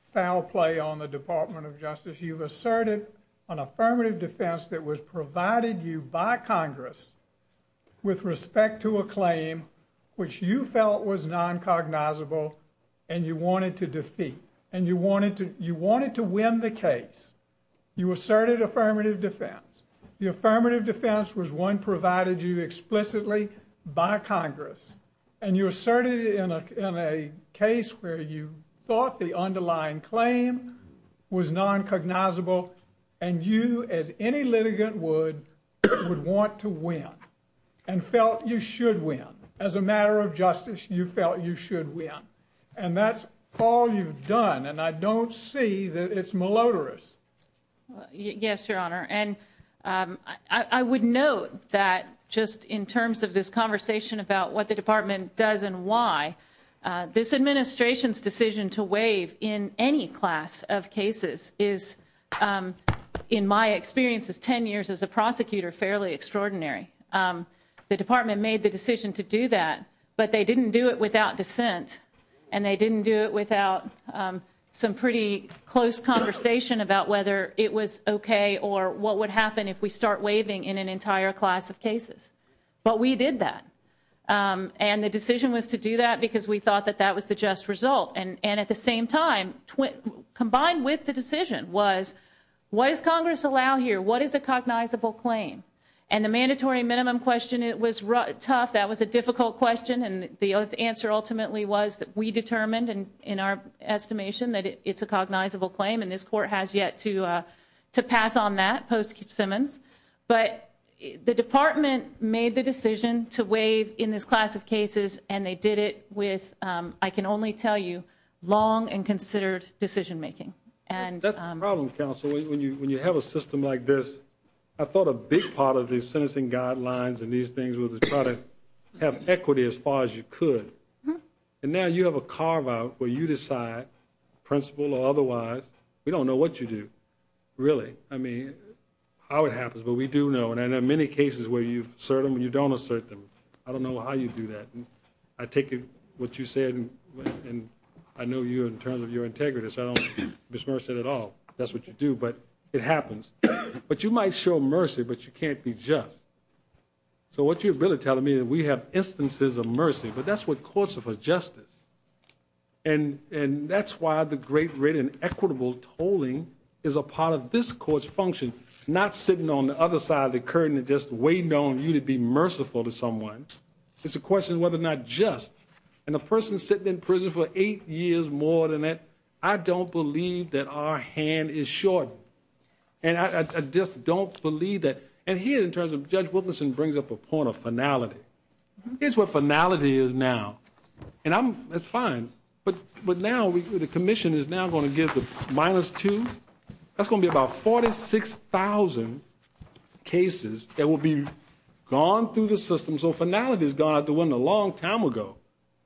foul play on the department of justice you've asserted an affirmative defense that was provided you by congress with respect to a claim which you felt was non-cognizable and you wanted to defeat and you wanted to you wanted to win the case you asserted affirmative defense the affirmative defense was one provided you explicitly by congress and you asserted in a in a case where you thought the underlying claim was non-cognizable and you as any litigant would would want to win and felt you should win as a matter of justice you felt you should win and that's all you've done and i don't see that it's malodorous yes your honor and um i i would note that just in terms of this conversation about what the department does and why this administration's decision to waive in any class of cases is in my experience is 10 years as a prosecutor fairly extraordinary the department made the decision to do that but they didn't do it without dissent and they didn't do it without some pretty close conversation about whether it was okay or what would happen if we start waiving in an entire class of cases but we did that and the decision was to do that because we thought that that was the just result and and at the same time combined with the decision was what does congress allow here what is a cognizable claim and the mandatory minimum question it was tough that was a difficult question and the answer ultimately was that we determined and in our estimation that it's a cognizable claim and this court has yet to made the decision to waive in this class of cases and they did it with um i can only tell you long and considered decision making and that's the problem counsel when you when you have a system like this i thought a big part of these sentencing guidelines and these things was to try to have equity as far as you could and now you have a carve out where you decide principle or otherwise we don't know what you do really i mean how it happens but we do know and in many cases where you've asserted when you don't assert them i don't know how you do that i take it what you said and i know you in terms of your integrity so i don't disperse it at all that's what you do but it happens but you might show mercy but you can't be just so what you're really telling me that we have instances of mercy but that's what courts are for justice and and that's why the great rate and equitable tolling is a part of this court's function not sitting on the other side of the curtain and just waiting on you to be merciful to someone it's a question whether or not just and the person sitting in prison for eight years more than that i don't believe that our hand is short and i i just don't believe that and here in terms of judge wilkinson brings up a point of finality here's what finality is now and i'm that's fine but but now we the commission is now going to give the minus two that's going to be about 46 000 cases that will be gone through the system so finale has gone out the window long time ago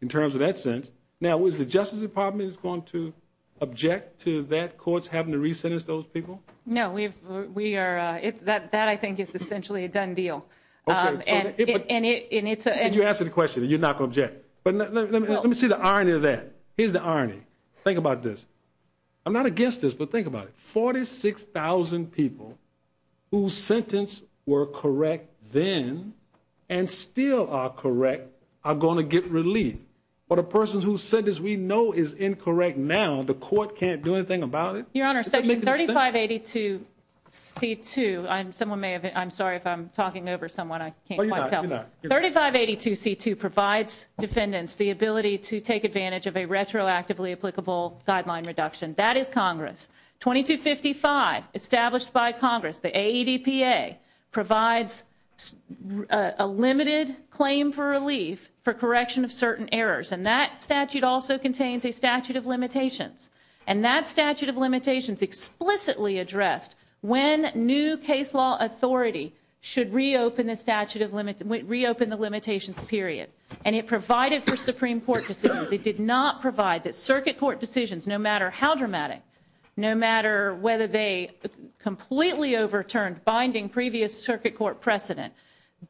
in terms of that sense now is the justice department is going to object to that courts having to re-sentence those people no we've we are uh it's that that i think it's essentially a done deal um and it and it and it's and you answer the question you're not going to object but let me see the irony of that here's the irony think about this i'm not against this but think about it 46 000 people whose sentence were correct then and still are correct are going to get relief but a person who said this we know is incorrect now the court can't do anything about it your honor section 35 82 c 2 i'm someone may have i'm sorry if i'm talking over someone i can't tell 35 82 c 2 provides defendants the ability to take advantage of a retroactively applicable guideline reduction that is congress 22 55 established by congress the aedpa provides a limited claim for relief for correction of certain errors and that statute also contains a statute of limitations and that statute of limitations explicitly addressed when new case law authority should reopen the statute of limit reopen the limitations period and it provided for supreme court decisions it did not provide that circuit court decisions no matter how dramatic no matter whether they completely overturned binding previous circuit court precedent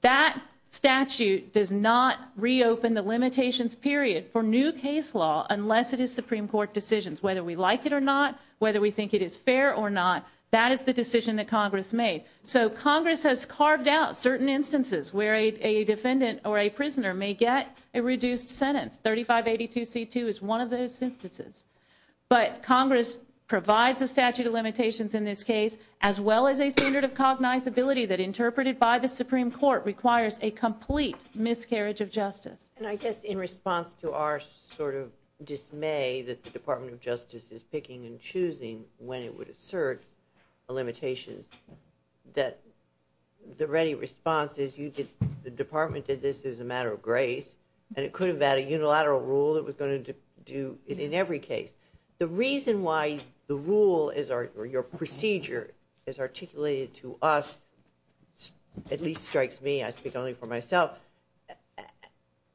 that statute does not reopen the limitations period for new case law unless it is supreme court decisions whether we like it or not whether we think it is fair or not that is the decision that congress made so congress has carved out certain instances where a reduced sentence 35 82 c 2 is one of those instances but congress provides a statute of limitations in this case as well as a standard of cognizability that interpreted by the supreme court requires a complete miscarriage of justice and i guess in response to our sort of dismay that the department of justice is picking and choosing when it would assert a limitation that the ready response is you did the department did this as a matter of and it could have had a unilateral rule that was going to do it in every case the reason why the rule is our your procedure is articulated to us at least strikes me i speak only for myself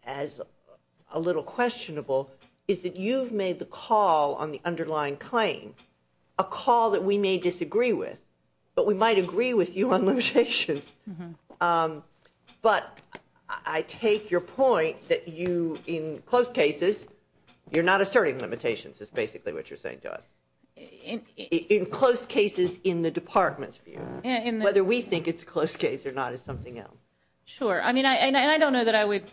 as a little questionable is that you've made the call on the underlying claim a call that we may disagree with but we might agree with you on limitations um but i take your point that you in close cases you're not asserting limitations is basically what you're saying to us in in close cases in the department's view whether we think it's a close case or not is something else sure i mean i and i don't know that i would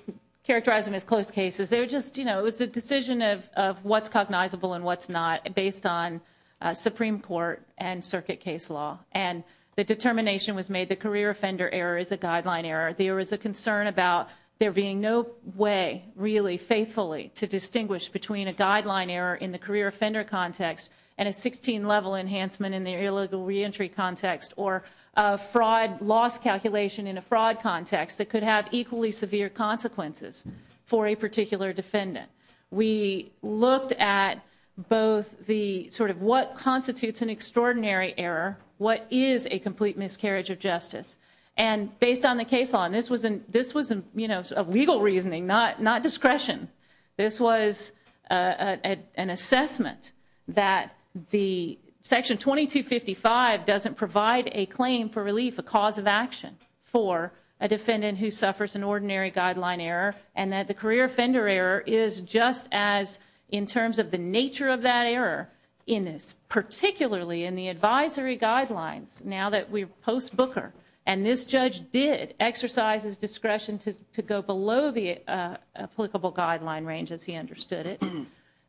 characterize them as close cases they were just you know it was a decision of of what's cognizable and what's not based on uh supreme court and circuit case law and the determination was made the career offender error is a guideline error there is a concern about there being no way really faithfully to distinguish between a guideline error in the career offender context and a 16 level enhancement in the illegal reentry context or a fraud loss calculation in a fraud context that could have equally severe consequences for a particular defendant we looked at both the sort of what constitutes an extraordinary error what is a complete miscarriage of justice and based on the case law and this was in this was a you know a legal reasoning not not discretion this was a an assessment that the section 2255 doesn't provide a claim for relief a cause of action for a defendant who suffers an ordinary guideline error and that the career offender error is just as in terms of the nature of that error in this particularly in the advisory guidelines now that we're post booker and this judge did exercise his discretion to to go below the applicable guideline range as he understood it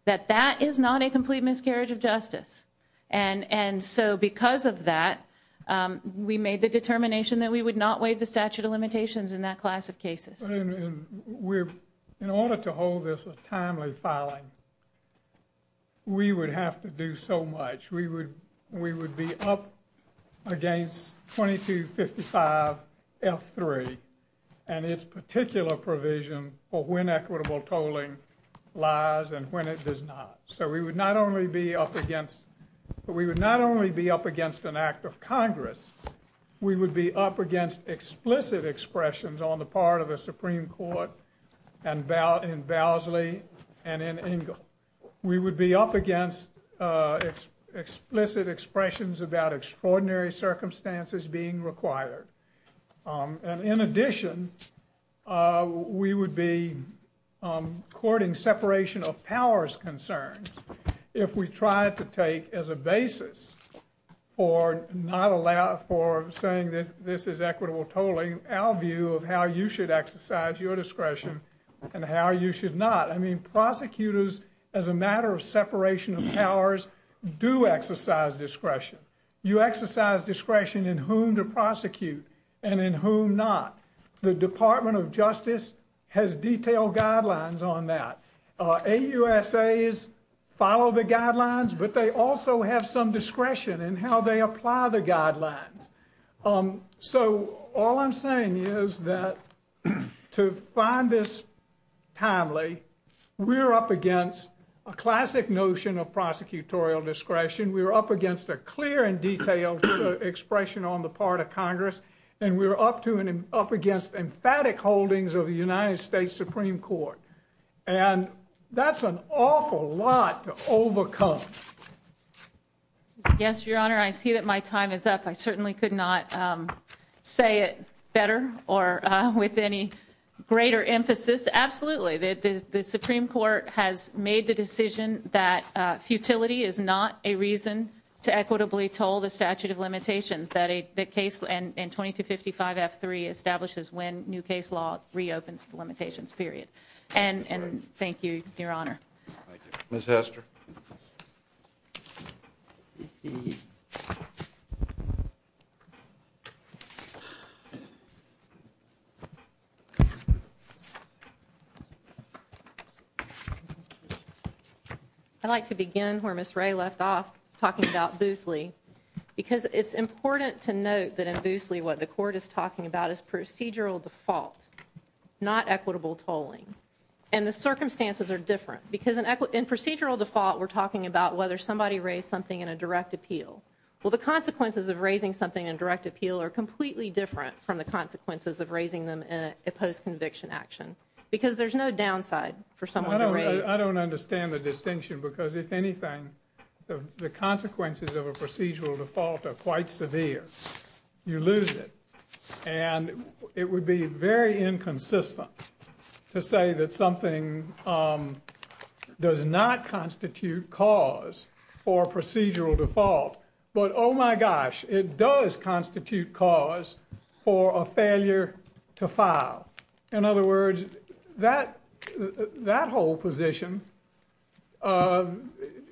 that that is not a complete miscarriage of justice and and so because of that we made the determination that we would not waive the statute of limitations in that class of cases we're in order to hold this a timely filing we would have to do so much we would we would be up against 2255 f3 and its particular provision for when equitable tolling lies and when it does not so we would not only be up against but we would not only be up against an act of congress we would be up against explicit expressions on the part of a supreme court and bow in vows lee and in engel we would be up against uh explicit expressions about extraordinary circumstances being required and in addition uh we would be um courting separation of powers concerns if we tried to take as a basis for not allowed for saying that this is equitable tolling our view of how you should exercise your discretion and how you should not i mean prosecutors as a matter of separation of powers do exercise discretion you exercise discretion in whom to prosecute and in whom not the department of justice has detailed guidelines on that uh a usa is follow the guidelines but they also have some discretion in how they apply the guidelines um so all i'm saying is that to find this timely we're up against a classic notion of prosecutorial discretion we're up against a clear and detailed expression on the part of congress and we're up to an up against emphatic holdings of the united states supreme court and that's an awful lot to overcome yes your honor i see that my time is up i certainly could not um say it better or uh with any greater emphasis absolutely that the supreme court has made the decision that uh futility is not a reason to equitably toll the statute of limitations that a the case and in 22 55 f 3 establishes when new case law reopens the limitations period and and thank you your honor miss hester i'd like to begin where miss ray left off talking about boosley because it's important to note that in boosley what the court is talking about is procedural default not equitable tolling and the circumstances are different because in procedural default we're talking about whether somebody raised something in a direct appeal well the consequences of raising something in direct appeal are completely different from the consequences of raising them in a post-conviction action because there's no downside for someone i don't know i don't understand the distinction because if anything the consequences of a procedural default are quite severe you lose it and it would be very inconsistent to say that something um does not constitute cause for procedural default but oh my gosh it does constitute cause for a failure to file in other words that that whole position uh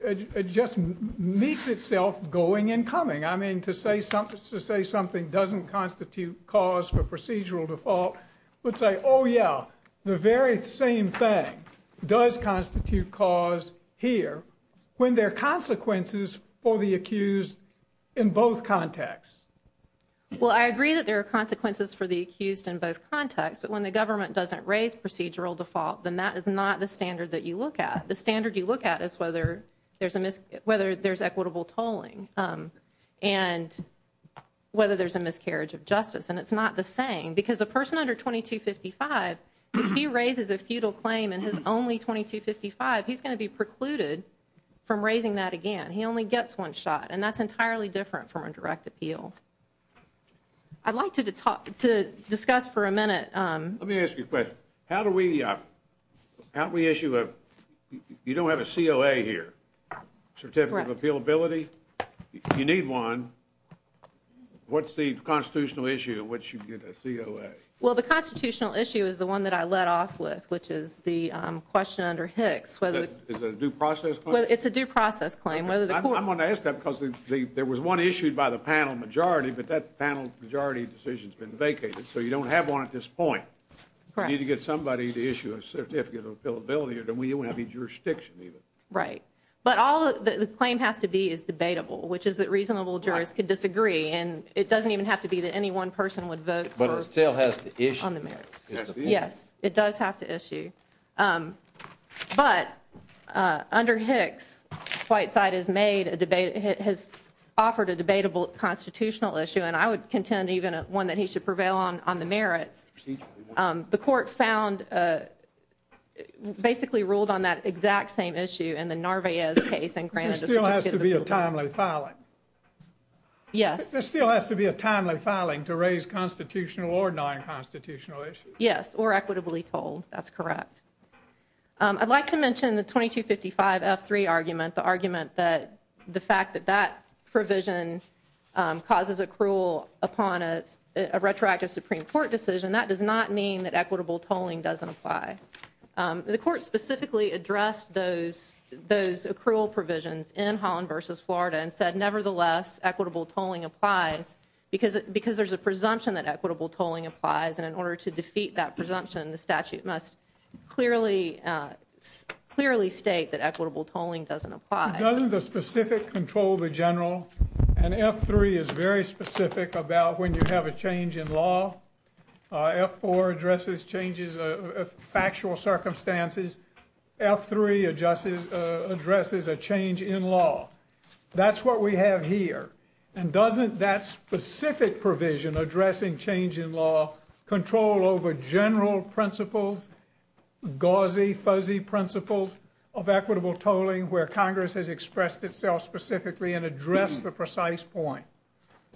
it just meets itself going and coming i mean to say something to say something doesn't constitute cause for procedural default would say oh yeah the very same thing does constitute cause here when there are consequences for the accused in both contexts well i agree that there are consequences for the accused in both contexts but when the government doesn't raise procedural default then that is not the standard that you look at the standard you look at is whether there's a miss whether there's equitable tolling um and whether there's a miscarriage of justice and it's not the same because a person under 22 55 if he raises a futile claim in his only 22 55 he's going to be precluded from raising that again he only gets one shot and that's entirely different from a direct appeal i'd like to talk to discuss for a minute um let me ask you a question how do we uh how do we issue a you don't have a coa here certificate of appealability you need one what's the constitutional issue in which you get a coa well the constitutional issue is the one that i led off with which is the question under hicks whether it's a due process well it's a due process claim whether the court i'm going to ask that because there was one issued by the panel majority but that panel majority decision's been vacated so you don't have one at this point correct you need to get somebody to issue a certificate of appealability or then we won't have any jurisdiction even right but all the claim has to be is debatable which is that reasonable jurors could disagree and it doesn't even have to be that any one person would vote but it still has to issue on the merits yes it does have to issue um but uh under hicks white side has made a debate it has offered a debatable constitutional issue and i would contend even one that he should prevail on on the merits um the court found uh basically ruled on that exact same issue in the narvaez case and granted it still has to be a timely filing yes there still has to be a timely filing to raise constitutional or non-constitutional issues yes or equitably told that's correct um i'd like to mention the 2255 f3 argument the argument that the fact that that provision um causes a cruel upon a retroactive supreme court decision that does not mean that equitable tolling doesn't apply um the court specifically addressed those those accrual provisions in holland versus florida and said nevertheless equitable tolling applies because because there's a presumption that equitable tolling applies and in order to defeat that presumption the statute must clearly clearly state that equitable tolling doesn't apply doesn't the specific control the general and f3 is very specific about when you have a change in law f4 addresses changes of factual circumstances f3 adjusts addresses a change in law that's what we have here and doesn't that specific provision addressing change in law control over general principles gauzy fuzzy principles of equitable tolling where congress has expressed itself specifically and addressed the precise point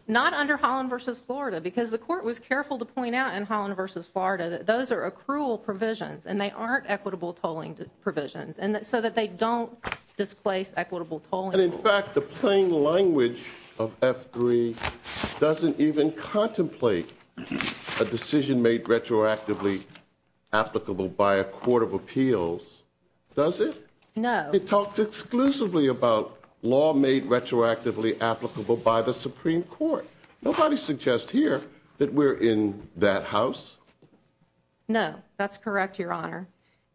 not under holland versus florida because the court was careful to point out in holland versus florida that those are accrual provisions and they aren't equitable tolling provisions and so that they don't displace equitable tolling and in fact the plain language of f3 doesn't even contemplate a decision made retroactively applicable by a court of appeals does it no it talks exclusively about law made retroactively applicable by the supreme court nobody suggests here that we're in that house no that's correct your honor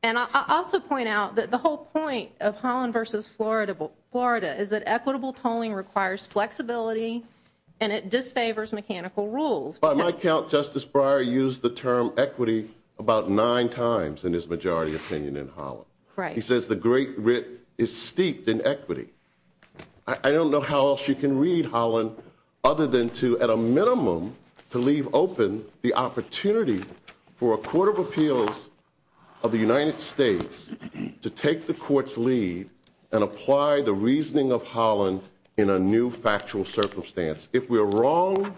and i also point out that the whole point of holland versus florida florida is that equitable tolling requires flexibility and it disfavors mechanical rules by my count justice bryer used the term equity about nine times in his majority opinion in holland right he says the great writ is steeped in equity i don't know how else you can read holland other than to at a minimum to leave open the opportunity for a court of appeals of the united states to take the court's lead and apply the reasoning of holland in a new factual circumstance if we're wrong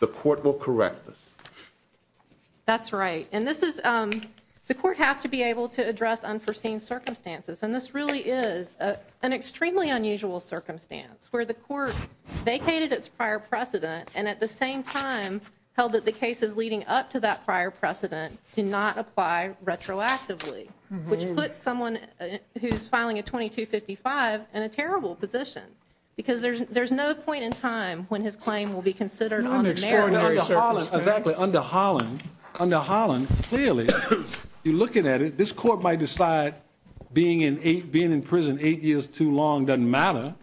the court will correct us that's right and this is um the court has to be able to address unforeseen circumstances and this really is a an extremely unusual circumstance where the court vacated its prior precedent and at the same time held that the cases leading up to that prior precedent did not apply retroactively which puts someone who's filing a 22 55 in a terrible position because there's there's no point in time when his claim will be considered exactly under holland under holland clearly you're looking at it this court might decide being in eight being in prison eight years too long doesn't matter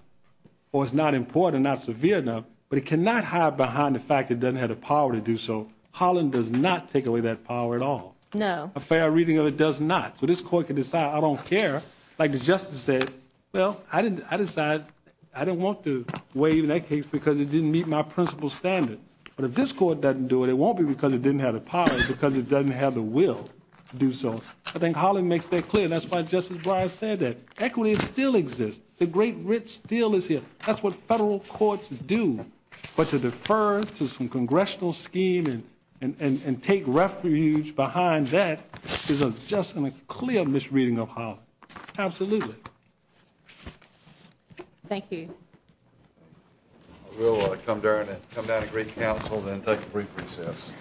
or it's not important not severe enough but it cannot hide behind the fact it doesn't have the power to do so holland does not take away that power at all no a fair reading of it does not so this court can decide i don't care like the justice said well i didn't i decide i didn't want to waive that case because it didn't meet my principal standard but if this court doesn't do it it won't be because it didn't have the power because it doesn't have the will to do so i think holland makes that clear that's why justice bryan said that equity still exists the great writ still is here that's what federal courts do but to defer to some congressional scheme and and and take refuge behind that is a just and a clear misreading of holland absolutely thank you i will come down and come down to great council and take a brief recess